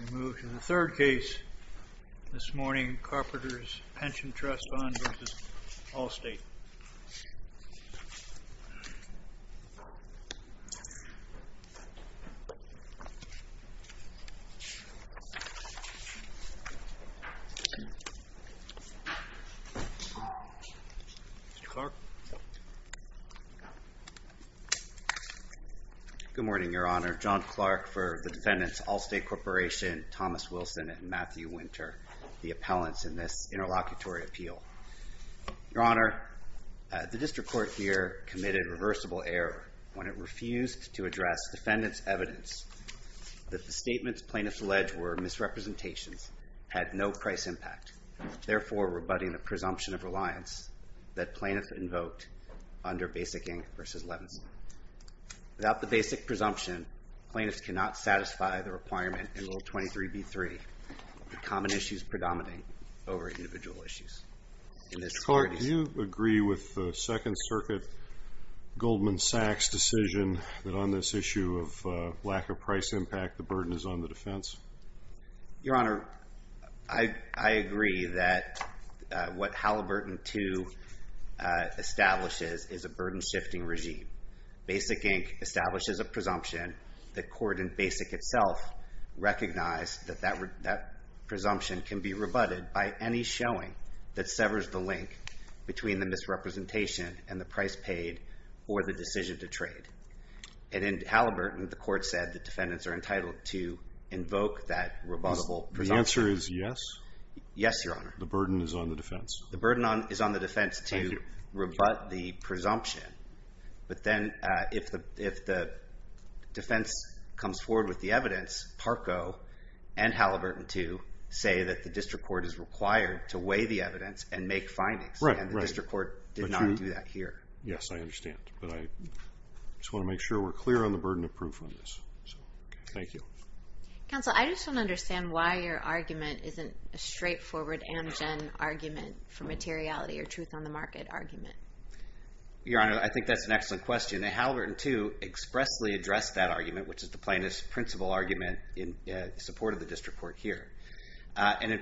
We move to the third case this morning. Carpenters Pension Trust Fund v. Allstate. Good morning, Your Honor. John Clark for the defendants, Allstate Corporation, Thomas Wilson, and Matthew Winter, the appellants in this interlocutory appeal. Your Honor, the District Court here committed reversible error when it refused to address defendants' evidence that the statements plaintiffs alleged were misrepresentations, had no price impact, therefore rebutting the presumption of reliance that plaintiffs invoked under Basic Inc. v. Levinson. Without the basic presumption, plaintiffs cannot satisfy the requirement in Rule 23b-3 of the common issues predominant over individual issues. In this court, do you agree with the Second Circuit, Goldman Sachs' decision that on this issue of lack of price impact, the burden is on the defense? Your Honor, I agree that what Halliburton II establishes is a burden-shifting regime. Basic Inc. establishes a presumption. The court in Basic itself recognized that that presumption can be rebutted by any showing that severs the link between the misrepresentation and the price paid for the decision to trade. And in Halliburton, the court said the defendants are entitled to invoke that rebuttable presumption. The answer is yes? Yes, Your Honor. The burden is on the defense. The burden is on the defense to rebut the presumption. But then, if the defense comes forward with the evidence, Parco and Halliburton II say that the district court is required to weigh the evidence and make findings. And the district court did not do that here. Yes, I understand. But I just want to make sure we're clear on the burden of proof on this. Thank you. Counsel, I just want to understand why your argument isn't a straightforward Amgen argument for materiality or truth on the market argument. Your Honor, I think that's an excellent question. Halliburton II expressly addressed that argument, which is the plaintiff's principle argument in support of the district court here. And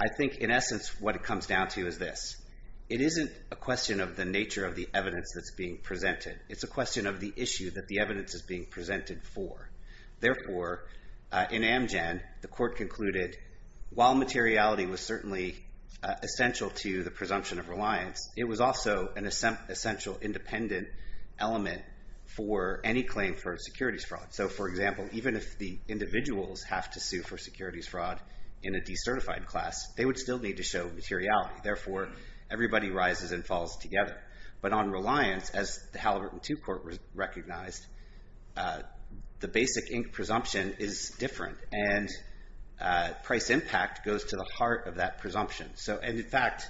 I think, in essence, what it comes down to is this. It isn't a question of the nature of the evidence that's being presented. It's a question of the issue that the evidence is being presented for. Therefore, in Amgen, the court concluded, while materiality was certainly essential to the presumption of reliance, it was also an essential independent element for any claim for securities fraud. So, for example, even if the individuals have to sue for securities fraud in a decertified class, they would still need to show materiality. Therefore, everybody rises and falls together. But on reliance, as the Halliburton II court recognized, the basic ink presumption is different. And price impact goes to the heart of that presumption. So, and in fact,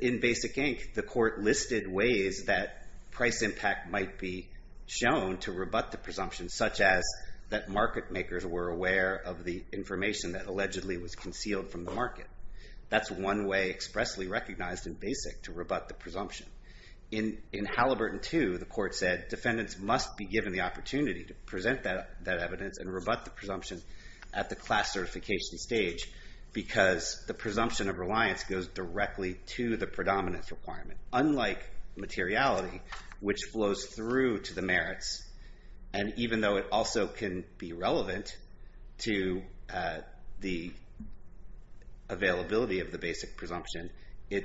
in basic ink, the court listed ways that price impact might be shown to rebut the presumption, such as that market makers were aware of the information that allegedly was concealed from the market. That's one way expressly recognized in basic to rebut the presumption. In Halliburton II, the court said defendants must be given the opportunity to present that evidence and rebut the presumption at the class certification stage because the presumption of reliance goes directly to the predominance requirement. Unlike materiality, which flows through to the merits, and even though it also can be relevant to the availability of the basic presumption, it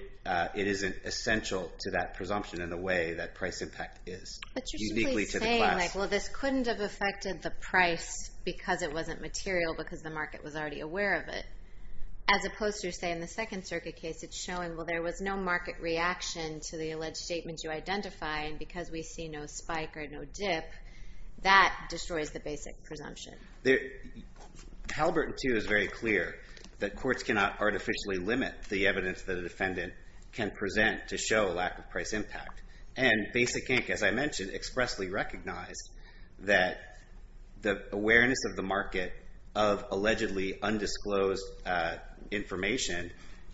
isn't essential to that presumption in the way that price impact is. But you're simply saying, like, well, this couldn't have affected the price because it wasn't material because the market was already aware of it. As opposed to, say, in the Second Circuit case, it's showing, well, there was no market reaction to the alleged statement you identified. And because we see no spike or no dip, that destroys the basic presumption. Halliburton II is very clear that courts cannot artificially limit the evidence that a defendant can present to show a lack of price impact. And Basic Inc., as I mentioned, expressly recognized that the awareness of the market of allegedly undisclosed information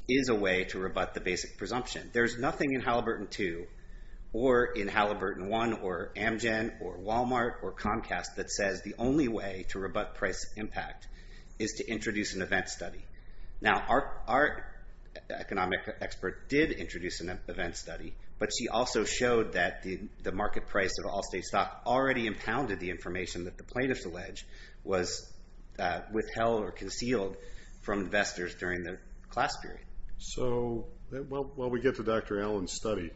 is a way to rebut the basic presumption. There's nothing in Halliburton II or in Halliburton I or Amgen or Walmart or Comcast that says the only way to rebut price impact is to introduce an event study. Now, our economic expert did introduce an event study, but she also showed that the market price of all state stock already impounded the information that the plaintiffs allege was withheld or concealed from investors during the class period. So, well, we get to Dr. Allen's study.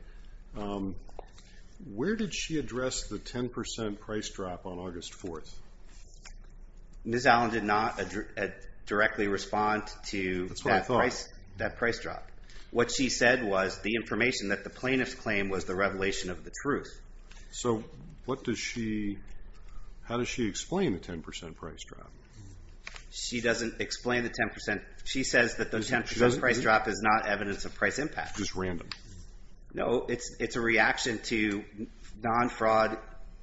Where did she address the 10% price drop on August 4th? Ms. Allen did not directly respond to that price drop. What she said was the information that the plaintiffs claimed was the revelation of the truth. So what does she, how does she explain the 10% price drop? She doesn't explain the 10%. She says that the 10% price drop is not evidence of price impact. Just random? No, it's a reaction to non-fraud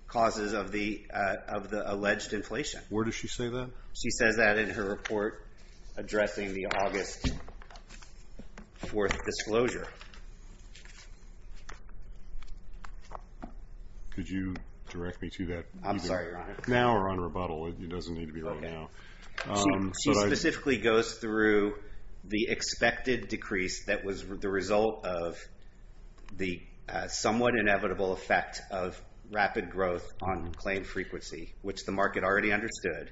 causes of the alleged inflation. Where does she say that? She says that in her report addressing the August 4th disclosure. Could you direct me to that? I'm sorry, Your Honor. Now we're on rebuttal. It doesn't need to be right now. She specifically goes through the expected decrease that was the result of the somewhat inevitable effect of rapid growth on claim frequency, which the market already understood.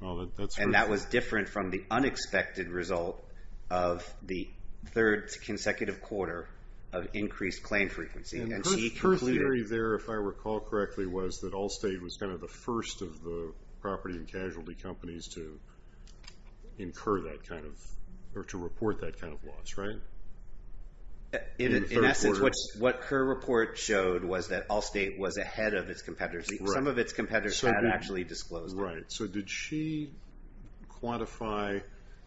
And that was different from the unexpected result of the third consecutive quarter of increased claim frequency. Her theory there, if I recall correctly, was that Allstate was kind of the first of the property and casualty companies to incur that kind of, or to report that kind of loss, right? In essence, what her report showed was that Allstate was ahead of its competitors. Some of its competitors had actually disclosed that. Right. So did she quantify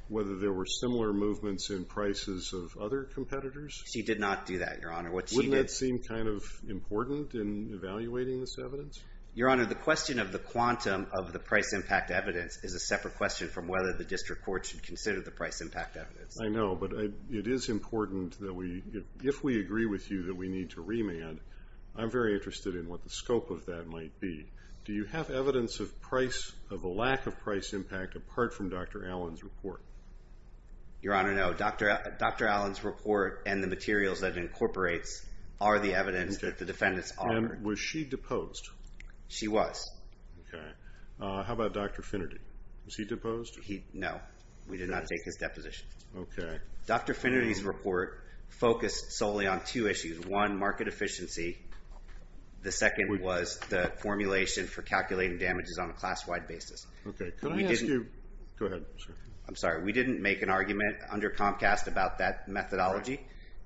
whether there were similar movements in prices of other competitors? She did not do that, Your Honor. Wouldn't that seem kind of important in evaluating this evidence? Your Honor, the question of the quantum of the price impact evidence is a separate question from whether the district court should consider the price impact evidence. I know, but it is important that if we agree with you that we need to remand, I'm very interested in what the scope of that might be. Do you have evidence of a lack of price impact apart from Dr. Allen's report? Your Honor, no. Dr. Allen's report and the materials that it incorporates are the evidence that the defendants offered. Was she deposed? She was. Okay. How about Dr. Finnerty? Was he deposed? No. We did not take his deposition. Okay. Dr. Finnerty's report focused solely on two issues. One, market efficiency. The second was the formulation for calculating damages on a class-wide basis. Okay. Go ahead. I'm sorry. We didn't make an argument under Comcast about that methodology.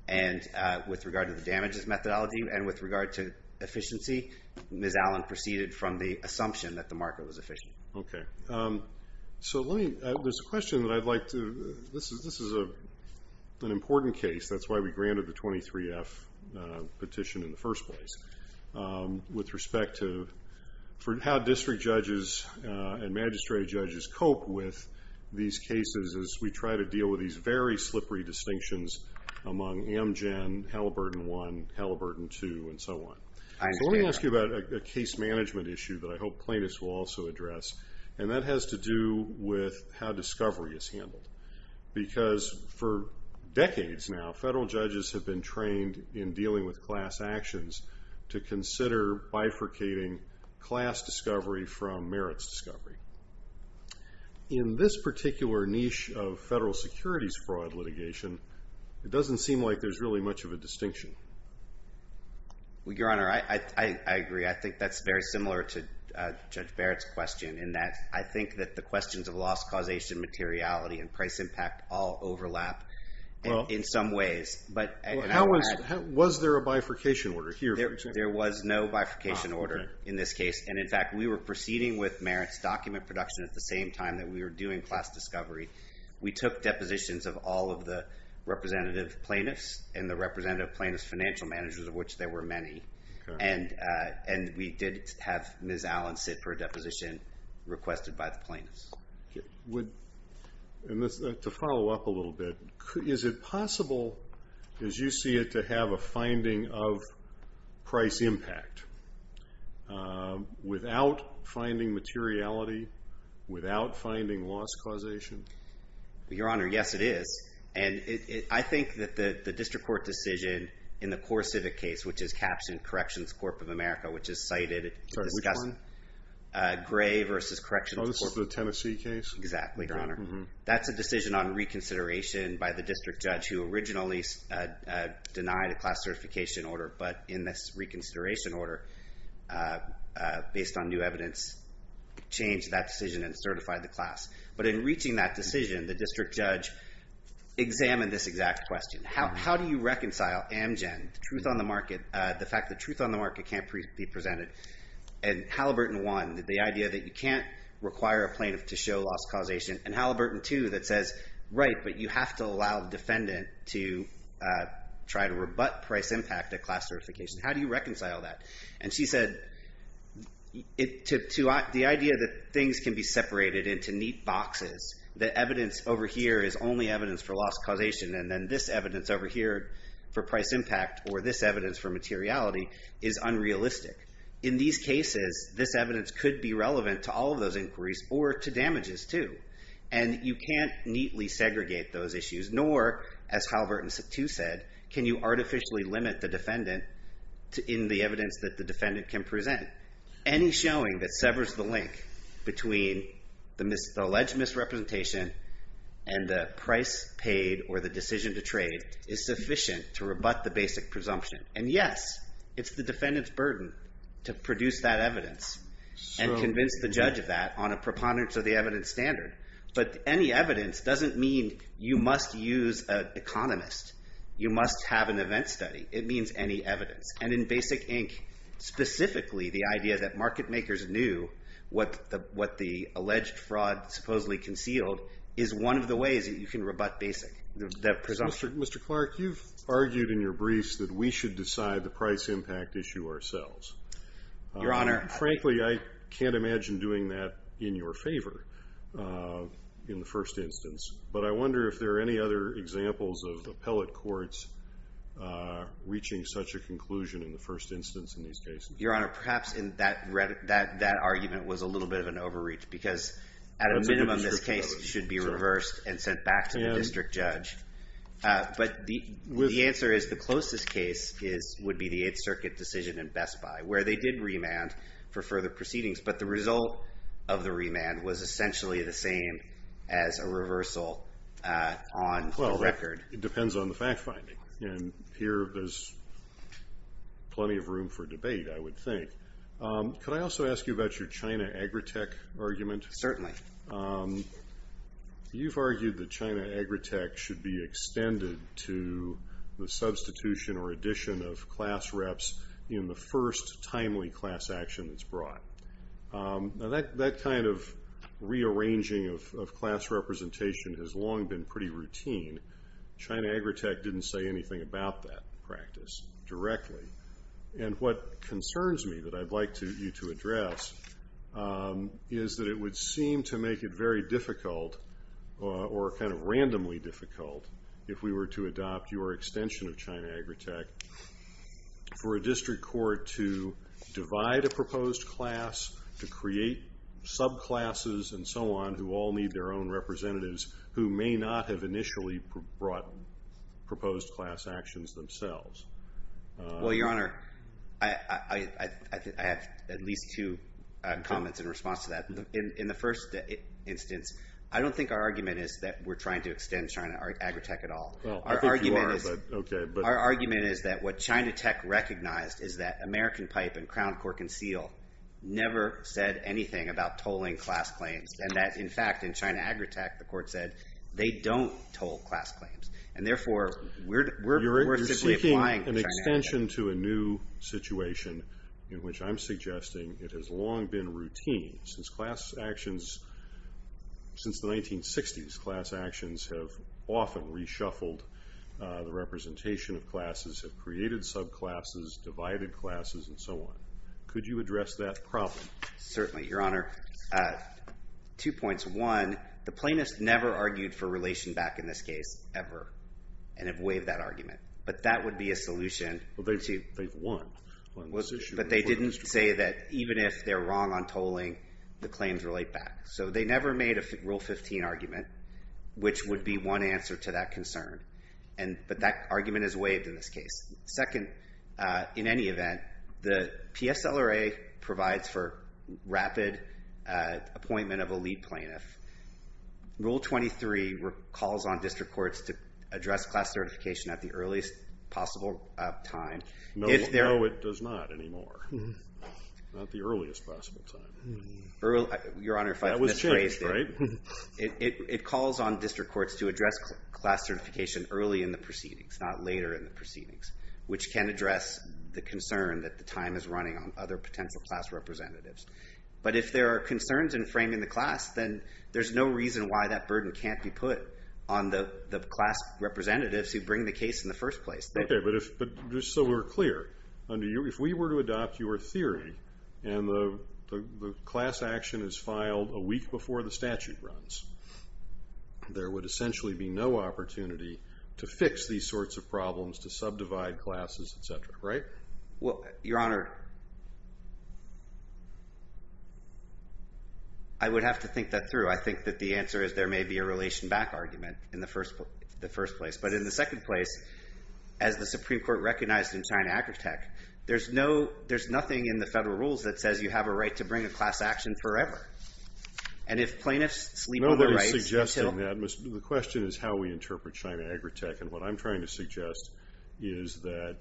And with regard to the damages methodology and with regard to efficiency, Ms. Allen proceeded from the assumption that the market was efficient. Okay. So let me, there's a question that I'd like to, this is an important case. That's why we granted the 23-F petition in the first place. With respect to how district judges and magistrate judges cope with these cases as we try to deal with these very slippery distinctions among Amgen, Halliburton I, Halliburton II, and so on. So let me ask you about a case management issue that I hope plaintiffs will also address. And that has to do with how discovery is handled. Because for decades now, federal judges have been trained in dealing with class actions to consider bifurcating class discovery from merits discovery. In this particular niche of federal securities fraud litigation, it doesn't seem like there's really much of a distinction. Well, Your Honor, I agree. I think that's very similar to Judge Barrett's question in that I think that the questions of loss, causation, materiality, and price impact all overlap in some ways. Was there a bifurcation order here? There was no bifurcation order in this case. And in fact, we were proceeding with merits document production at the same time that we were doing class discovery. We took depositions of all of the representative plaintiffs and the representative plaintiffs' financial managers, of which there were many. And we did have Ms. Allen sit for a deposition requested by the plaintiffs. To follow up a little bit, is it possible, as you see it, to have a finding of price impact without finding materiality, without finding loss causation? Your Honor, yes, it is. And I think that the district court decision in the CoreCivic case, which is captioned Corrections Corp. of America, which is cited, discussing Gray versus Corrections Corp. Oh, this is the Tennessee case? Exactly, Your Honor. That's a decision on reconsideration by the district judge, who originally denied a class certification order. But in this reconsideration order, based on new evidence, changed that decision and certified the class. But in reaching that decision, the district judge examined this exact question. How do you reconcile Amgen, the truth on the market, the fact that truth on the market can't be presented, and Halliburton 1, the idea that you can't require a plaintiff to show loss causation, and Halliburton 2, that says, right, but you have to allow the defendant to try to rebut price impact at class certification. How do you reconcile that? And she said, the idea that things can be separated into neat boxes, that evidence over here is only evidence for loss causation, and then this evidence over here for price impact, or this evidence for materiality, is unrealistic. In these cases, this evidence could be relevant to all of those inquiries, or to damages, too, and you can't neatly segregate those issues, nor, as Halliburton 2 said, can you artificially limit the defendant in the evidence that the defendant can present. Any showing that severs the link between the alleged misrepresentation and the price paid or the decision to trade is sufficient to rebut the basic presumption. And yes, it's the defendant's burden to produce that evidence and convince the judge of that on a preponderance of the evidence standard, but any evidence doesn't mean you must use an economist. You must have an event study. It means any evidence, and in Basic Inc., specifically, the idea that market makers knew what the alleged fraud supposedly concealed is one of the ways that you can rebut basic presumption. Mr. Clark, you've argued in your briefs that we should decide the price impact issue ourselves. Your Honor. Frankly, I can't imagine doing that in your favor in the first instance, but I wonder if there are any other examples of appellate courts reaching such a conclusion in the first instance in these cases. Your Honor, perhaps that argument was a little bit of an overreach because at a minimum this case should be reversed and sent back to the district judge. But the answer is the closest case would be the Eighth Circuit decision in Best Buy where they did remand for further proceedings, but the result of the remand was essentially the same as a reversal on the record. Well, it depends on the fact finding. And here there's plenty of room for debate, I would think. Could I also ask you about your China Agritech argument? Certainly. You've argued that China Agritech should be extended to the substitution or addition of class reps in the first timely class action that's brought. That kind of rearranging of class representation has long been pretty routine. China Agritech didn't say anything about that practice directly. And what concerns me that I'd like you to address is that it would seem to make it very difficult or kind of randomly difficult if we were to adopt your extension of China Agritech for a district court to divide a proposed class, to create subclasses and so on who all need their own representatives who may not have initially brought proposed class actions themselves. Your Honor, I have at least two comments in response to that. In the first instance, I don't think our argument is that we're trying to extend China Agritech at all. Well, I think you are, but okay. Our argument is that what China Tech recognized is that American Pipe and Crown Court Conceal never said anything about tolling class claims and that in fact in China Agritech the court said they don't toll class claims. And therefore, we're simply applying China Agritech. You're seeking an extension to a new situation in which I'm suggesting it has long been routine. Since class actions since the 1960s, class actions have often reshuffled the representation of classes, have created subclasses, divided classes and so on. Could you address that problem? Certainly, Your Honor. Two points. One, the plaintiffs never argued for relation back in this case ever and have waived that argument. But that would be a solution. Well, they won. But they didn't say that even if they're wrong on tolling, the claims relate back. So they never made a Rule 15 argument, which would be one answer to that concern. But that argument is waived in this case. Second, in any event, the PSLRA provides for rapid appointment of a lead plaintiff. Rule 23 calls on district courts to address class certification at the earliest possible time. No, it does not anymore. Not the earliest possible time. That was changed, right? It calls on district courts to address class certification early in the proceedings, not later in the proceedings, which can address the concern that the time is running on other potential class representatives. But if there are concerns in framing the class, then there's no reason why that burden can't be put on the class representatives who bring the case in the first place. Okay, but just so we're clear, if we were to adopt your theory and the class action is filed a week before the statute runs, there would essentially be no opportunity to fix these sorts of problems, to subdivide classes, et cetera, right? Well, Your Honor, I would have to think that through. I think that the answer is there may be a relation back argument in the first place. But in the second place, as the Supreme Court recognized in China Agritech, there's nothing in the federal rules that says you have a right to bring a class action forever. And if plaintiffs sleep on their rights until... Nobody's suggesting that. The question is how we interpret China Agritech. And what I'm trying to suggest is that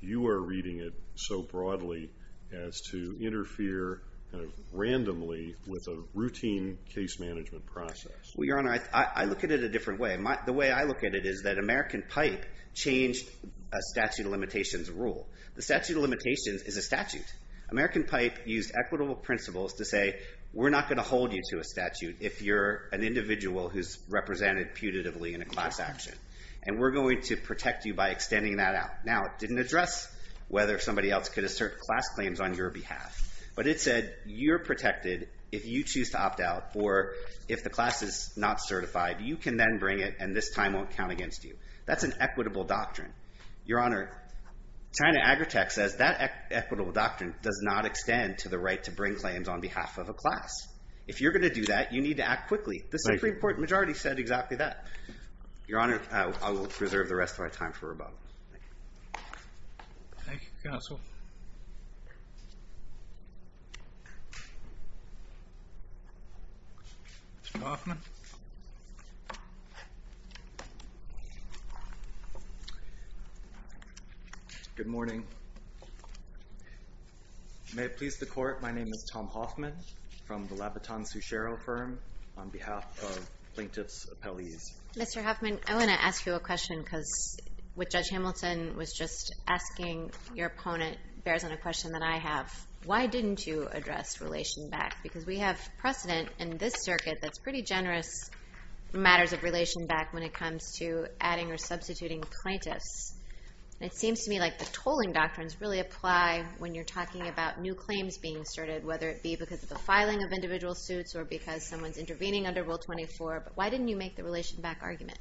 you are reading it so broadly as to interfere kind of randomly with a routine case management process. Well, Your Honor, I look at it a different way. The way I look at it is that American PIPE changed a statute of limitations rule. The statute of limitations is a statute. American PIPE used equitable principles to say, we're not going to hold you to a statute if you're an individual who's represented putatively in a class action. And we're going to protect you by extending that out. Now, it didn't address whether somebody else could assert class claims on your behalf. But it said you're protected if you choose to opt out or if the class is not certified, you can then bring it, and this time won't count against you. That's an equitable doctrine. Your Honor, China Agritech says that equitable doctrine does not extend to the right to bring claims on behalf of a class. If you're going to do that, you need to act quickly. The Supreme Court majority said exactly that. Your Honor, I will preserve the rest of my time for rebuttal. Thank you. Thank you, counsel. Mr. Hoffman? Good morning. May it please the Court, my name is Tom Hoffman from the Labaton-Suchero firm on behalf of plaintiff's appellees. Mr. Hoffman, I want to ask you a question because what Judge Hamilton was just asking your opponent bears on a question that I have. Why didn't you address relation back? Because we have precedent in this circuit that's pretty generous matters of relation back when it comes to adding or substituting plaintiffs. It seems to me like the tolling doctrines really apply when you're talking about new claims being asserted, whether it be because of the filing of individual suits or because someone's intervening under Rule 24, but why didn't you make the relation back argument?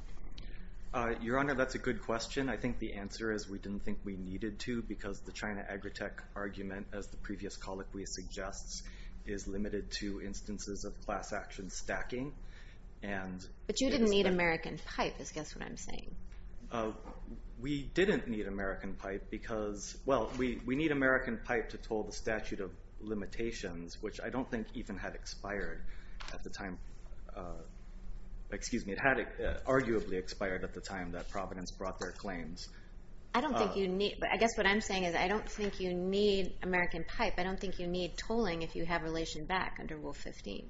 Your Honor, that's a good question. I think the answer is we didn't think we needed to because the China Agritech argument, as the previous colloquy suggests, is limited to instances of class action stacking. But you didn't need American pipe, is guess what I'm saying. We didn't need American pipe because, well, we need American pipe to toll the statute of limitations, which I don't think even had expired at the time. Excuse me, it had arguably expired at the time that Providence brought their claims. I guess what I'm saying is I don't think you need American pipe. I don't think you need tolling if you have relation back under Rule 15.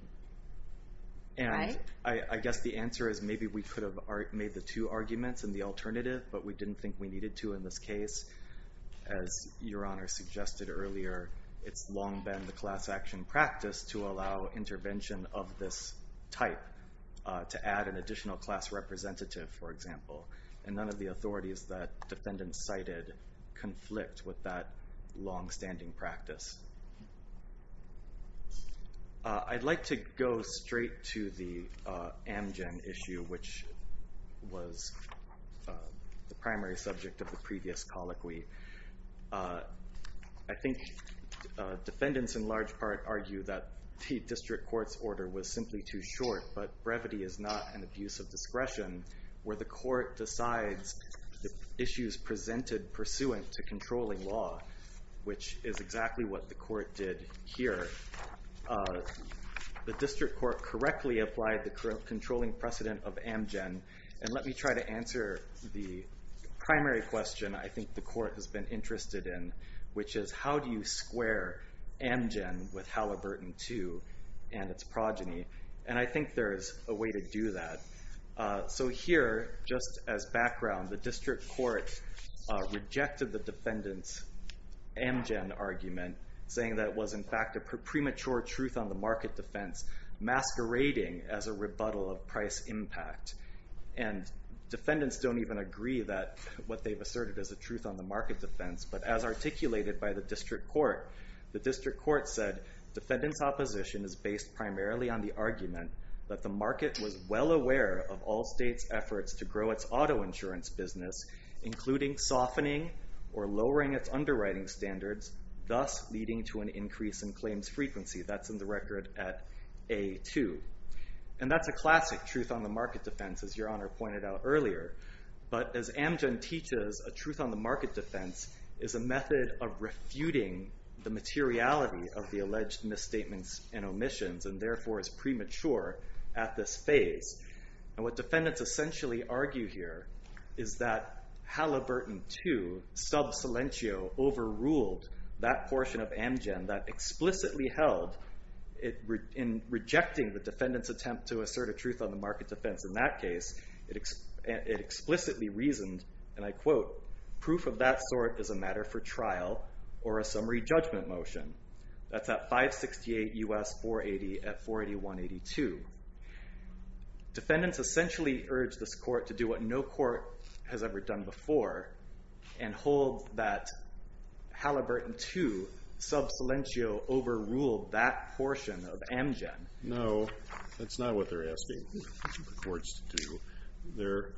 And I guess the answer is maybe we could have made the two arguments and the alternative, but we didn't think we needed to in this case. As Your Honor suggested earlier, it's long been the class action practice to allow intervention of this type to add an additional class representative, for example. And none of the authorities that defendant cited conflict with that longstanding practice. I'd like to go straight to the Amgen issue, which was the primary subject of the previous colloquy. I think defendants, in large part, argue that the district court's order was simply too short, but brevity is not an abuse of discretion where the court decides the issues presented pursuant to controlling law, which is exactly what the court did here. The district court correctly applied the controlling precedent of Amgen. And let me try to answer the primary question I think the court has been interested in, which is, how do you square Amgen with Halliburton II and its progeny? And I think there is a way to do that. So here, just as background, the district court rejected the defendant's Amgen argument, saying that it was, in fact, a premature truth on the market defense masquerading as a rebuttal of price impact. And defendants don't even agree that what they've asserted is a truth on the market defense. But as articulated by the district court, the district court said, defendants' opposition is based primarily on the argument that the market was well aware of all states' efforts to grow its auto insurance business, including softening or lowering its underwriting standards, thus leading to an increase in claims frequency. That's in the record at A2. And that's a classic truth on the market defense, as Your Honor pointed out earlier. But as Amgen teaches, a truth on the market defense is a method of refuting the materiality of the alleged misstatements and omissions, and therefore is premature at this phase. And what defendants essentially argue here is that Halliburton II, sub silentio, overruled that portion of Amgen that explicitly held in rejecting the defendant's attempt to assert a truth on the market defense in that case, it explicitly reasoned, and I quote, proof of that sort is a matter for trial or a summary judgment motion. That's at 568 U.S. 480 at 481-82. Defendants essentially urge this court to do what no court has ever done before and hold that Halliburton II, sub silentio, overruled that portion of Amgen. No, that's not what they're asking the courts to do.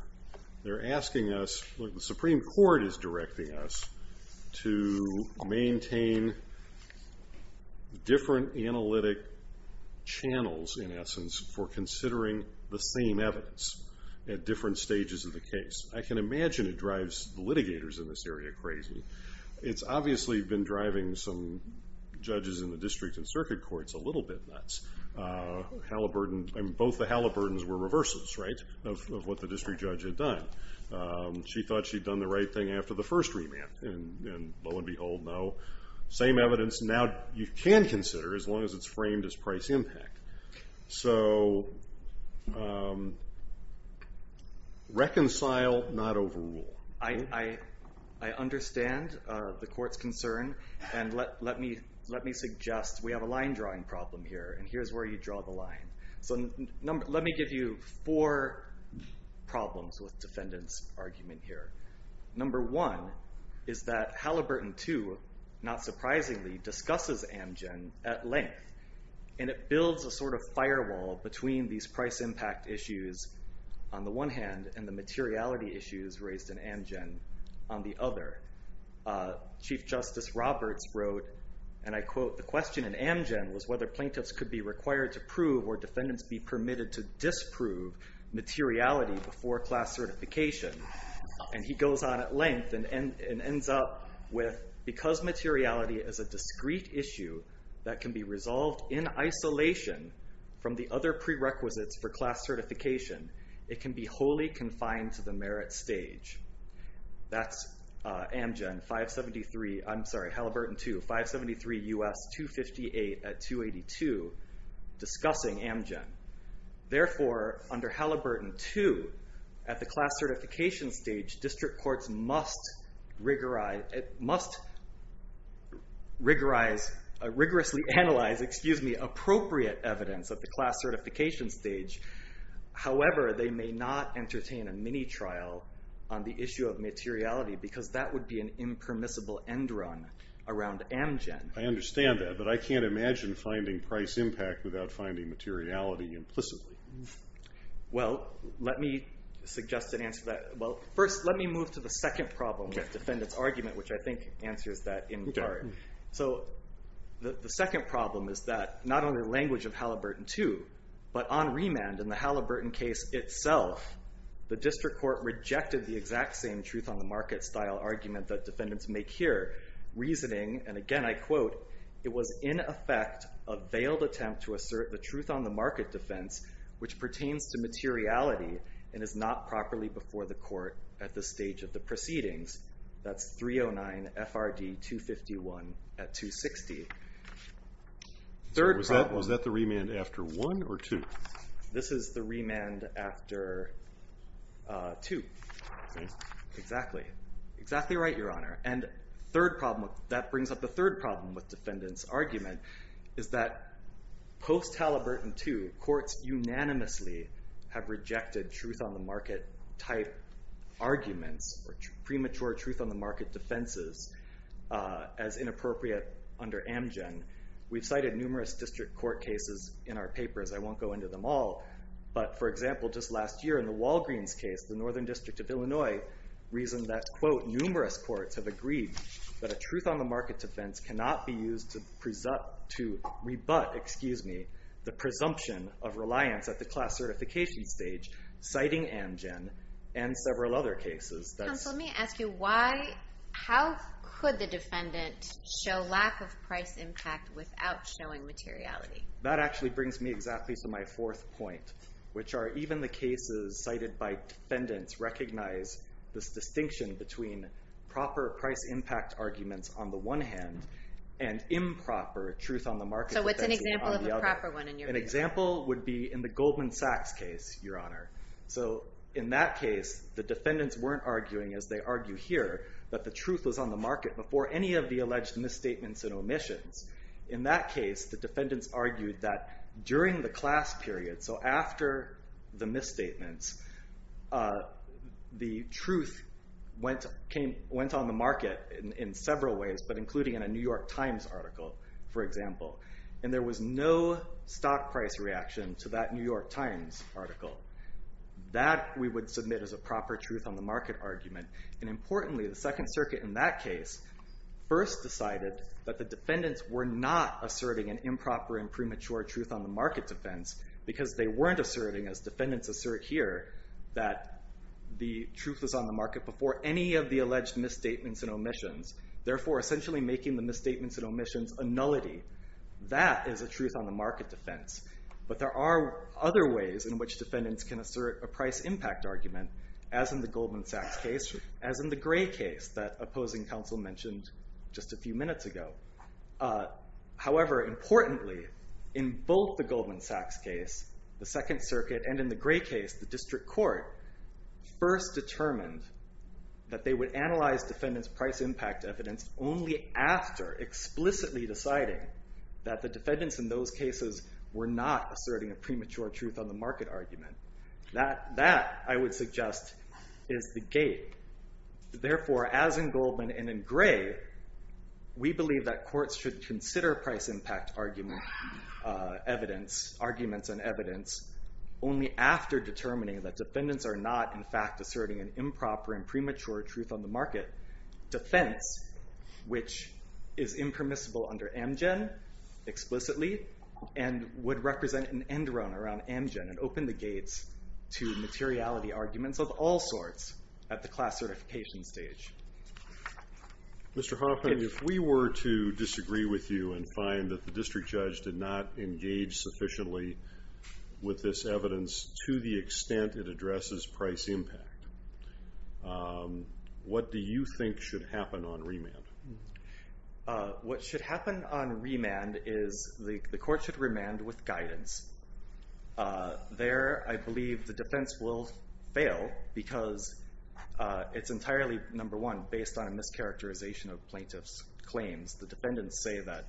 They're asking us, what the Supreme Court is directing us to maintain different analytic channels, in essence, for considering the same evidence at different stages of the case. I can imagine it drives the litigators in this area crazy. It's obviously been driving some judges in the district and circuit courts a little bit nuts. Both the Halliburtons were reversals, right, of what the district judge had done. She thought she'd done the right thing after the first remand, and lo and behold, no. Same evidence, now you can consider, as long as it's framed as price impact. So reconcile, not overrule. I understand the court's concern, and let me suggest we have a line drawing problem here, and here's where you draw the line. So let me give you four problems with defendant's argument here. Number one is that Halliburton II, not surprisingly, discusses Amgen at length, and it builds a sort of firewall between these price impact issues on the one hand and the materiality issues raised in Amgen on the other. Chief Justice Roberts wrote, and I quote, the question in Amgen was whether plaintiffs could be required to prove or defendants be permitted to disprove materiality before class certification. And he goes on at length and ends up with, because materiality is a discrete issue that can be resolved in isolation from the other prerequisites for class certification, it can be wholly confined to the merit stage. That's Halliburton II, 573 U.S. 258 at 282, discussing Amgen. Therefore, under Halliburton II, at the class certification stage, district courts must rigorously analyze appropriate evidence at the class certification stage. However, they may not entertain a mini trial on the issue of materiality, because that would be an impermissible end run around Amgen. I understand that, but I can't imagine finding price impact without finding materiality implicitly. Well, let me suggest an answer to that. First, let me move to the second problem with defendants' argument, which I think answers that in part. So the second problem is that not only the language of Halliburton II, but on remand in the Halliburton case itself, the district court rejected the exact same truth on the market style argument that defendants make here, reasoning, and again I quote, it was in effect a veiled attempt to assert the truth on the market defense, which pertains to materiality and is not properly before the court at the stage of the proceedings. That's 309 FRD 251 at 260. Third problem. Was that the remand after one or two? This is the remand after two. OK. Exactly. Exactly right, Your Honor. And that brings up the third problem with defendants' argument, is that post-Halliburton II, courts unanimously have rejected truth on the market type arguments or premature truth on the market defenses as inappropriate under Amgen. We've cited numerous district court cases in our papers. I won't go into them all. But for example, just last year in the Walgreens case, the Northern District of Illinois reasoned that quote, numerous courts have agreed that a truth on the market defense cannot be used to rebut the presumption of reliance at the class certification stage, citing Amgen and several other cases. Counsel, let me ask you, how could the defendant show lack of price impact without showing materiality? That actually brings me exactly to my fourth point, which are even the cases cited by defendants recognize this distinction between proper price impact arguments on the one hand and improper truth on the market defense on the other. So what's an example of a proper one in your view? An example would be in the Goldman Sachs case, Your Honor. So in that case, the defendants weren't arguing, as they argue here, that the truth was on the market before any of the alleged misstatements and omissions. In that case, the defendants argued that during the class period, so after the misstatements, the truth went on the market in several ways, but including in a New York Times article, for example. And there was no stock price reaction to that New York Times article. That, we would submit as a proper truth on the market argument. And importantly, the Second Circuit in that case first decided that the defendants were not asserting an improper and premature truth on the market defense, because they weren't asserting, as defendants assert here, that the truth was on the market before any of the alleged misstatements and omissions. Therefore, essentially making the misstatements and omissions a nullity. That is a truth on the market defense. But there are other ways in which defendants can assert a price impact argument, as in the Goldman Sachs case, as in the Gray case that opposing counsel mentioned just a few minutes ago. However, importantly, in both the Goldman Sachs case, the Second Circuit, and in the Gray case, the district court first determined that they would analyze defendants' price impact evidence only after explicitly deciding that the defendants in those cases were not asserting a premature truth on the market argument. That, I would suggest, is the gate. Therefore, as in Goldman and in Gray, we believe that courts should consider price impact arguments and evidence only after determining that defendants are not, in fact, asserting an improper and premature truth on the market defense, which is impermissible under Amgen, explicitly, and would represent an end run around Amgen and open the gates to materiality arguments of all sorts at the class certification stage. Mr. Hoffman, if we were to disagree with you and find that the district judge did not engage sufficiently with this evidence to the extent it addresses price impact, what do you think should happen on remand? What should happen on remand is the court should remand with guidance. There, I believe the defense will fail because it's entirely, number one, based on a mischaracterization of plaintiffs' claims. The defendants say that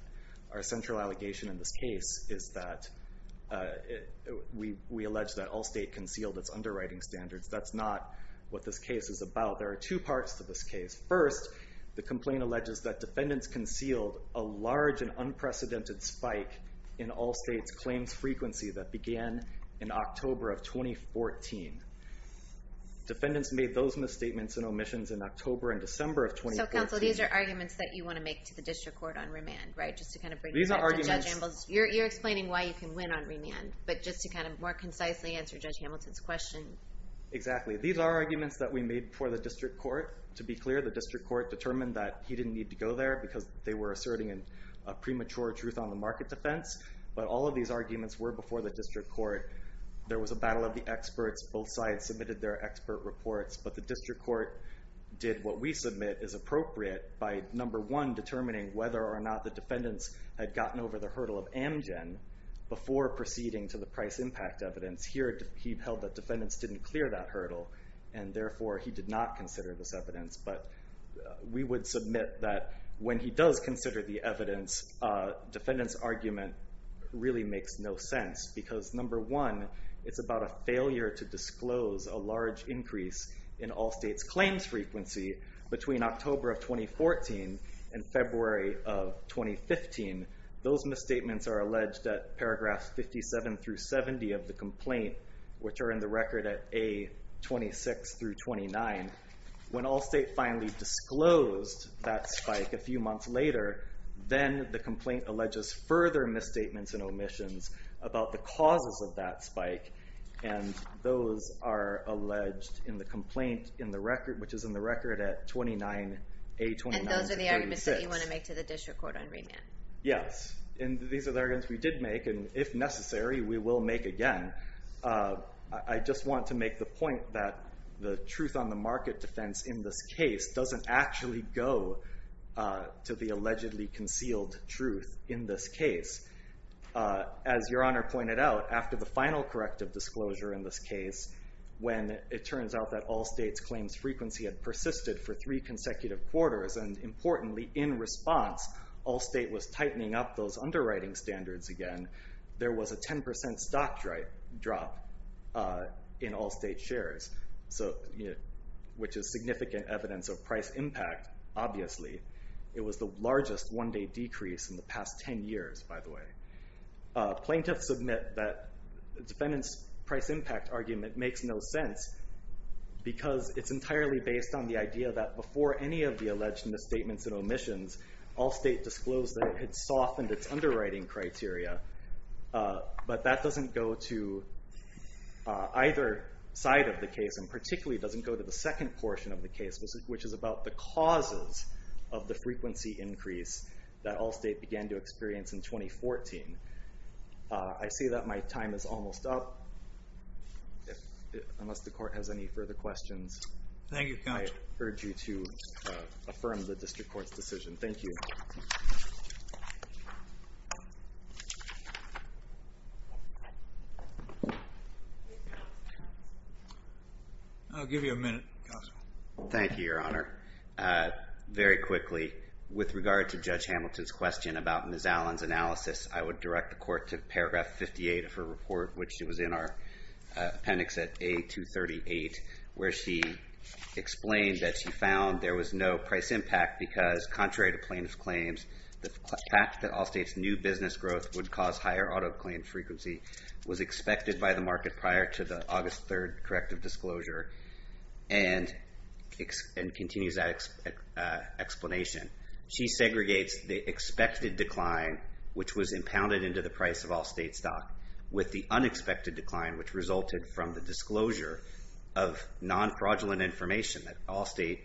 our central allegation in this case is that we allege that Allstate concealed its underwriting standards. That's not what this case is about. There are two parts to this case. First, the complaint alleges that defendants concealed a large and unprecedented spike in Allstate's claims frequency that began in October of 2014. Defendants made those misstatements and omissions in October and December of 2014. So, counsel, these are arguments that you want to make to the district court on remand, right, just to kind of bring... These are arguments... You're explaining why you can win on remand, but just to kind of more concisely answer Judge Hamilton's question. Exactly. These are arguments that we made before the district court. To be clear, the district court determined that he didn't need to go there because they were asserting a premature truth on the market defense, but all of these arguments were before the district court. There was a battle of the experts. Both sides submitted their expert reports, but the district court did what we submit is appropriate by, number one, determining whether or not the defendants had gotten over the hurdle of Amgen before proceeding to the price impact evidence. Here, he held that defendants didn't clear that hurdle, and therefore, he did not consider this evidence, but we would submit that when he does consider the evidence, defendants' argument really makes no sense because, number one, it's about a failure to disclose a large increase in all states' claims frequency between October of 2014 and February of 2015. Those misstatements are alleged at paragraphs 57 through 70 of the complaint, which are in the record at A26 through 29. When all states finally disclosed that spike a few months later, then the complaint alleges further misstatements and omissions about the causes of that spike, and those are alleged in the complaint which is in the record at 29, A29 to 36. And those are the arguments that you want to make to the district court on remand? Yes, and these are the arguments we did make, and if necessary, we will make again. I just want to make the point that the truth on the market defense in this case doesn't actually go to the allegedly concealed truth in this case. As Your Honor pointed out, after the final corrective disclosure in this case, when it turns out that all states' claims frequency had persisted for three consecutive quarters, and importantly, in response, all state was tightening up those underwriting standards again, there was a 10% stock drop in all state shares, which is significant evidence of price impact, obviously. It was the largest one-day decrease in the past 10 years, by the way. Plaintiffs submit that the defendant's price impact argument makes no sense because it's entirely based on the idea that before any of the alleged misstatements and omissions, all state disclosed that it had softened its underwriting criteria, but that doesn't go to either side of the case, and particularly doesn't go to the second portion of the case, which is about the causes of the frequency increase that all state began to experience in 2014. I see that my time is almost up. Unless the Court has any further questions, I urge you to affirm the District Court's decision. Thank you. I'll give you a minute, Counsel. Thank you, Your Honor. Very quickly, with regard to Judge Hamilton's question about Ms. Allen's analysis, I would direct the Court to paragraph 58 of her report, which was in our appendix at A238, where she explained that she found there was no price impact because, contrary to plaintiff's claims, the fact that all states' new business growth would cause higher auto claim frequency was expected by the market prior to the August 3rd corrective disclosure, and continues that explanation. She segregates the expected decline, which was impounded into the price of all state stock, with the unexpected decline, which resulted from the disclosure of non-fraudulent information that all state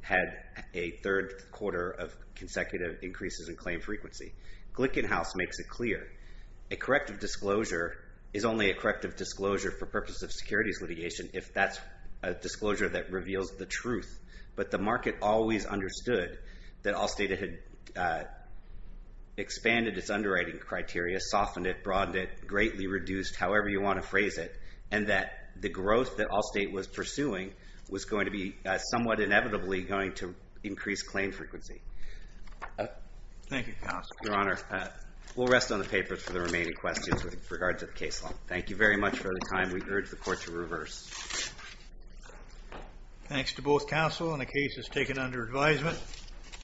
had a third quarter of consecutive increases in claim frequency. Glickenhaus makes it clear a corrective disclosure is only a corrective disclosure for purposes of securities litigation if that's a disclosure that reveals the truth. But the market always understood that all state had expanded its underwriting criteria, softened it, broadened it, greatly reduced, however you want to phrase it, and that the growth that all state was pursuing was going to be somewhat inevitably going to increase claim frequency. Thank you, counsel. Your Honor, we'll rest on the papers for the remaining questions with regard to the case law. Thank you very much for the time. We urge the court to reverse. Thanks to both counsel, and the case is taken under advisement.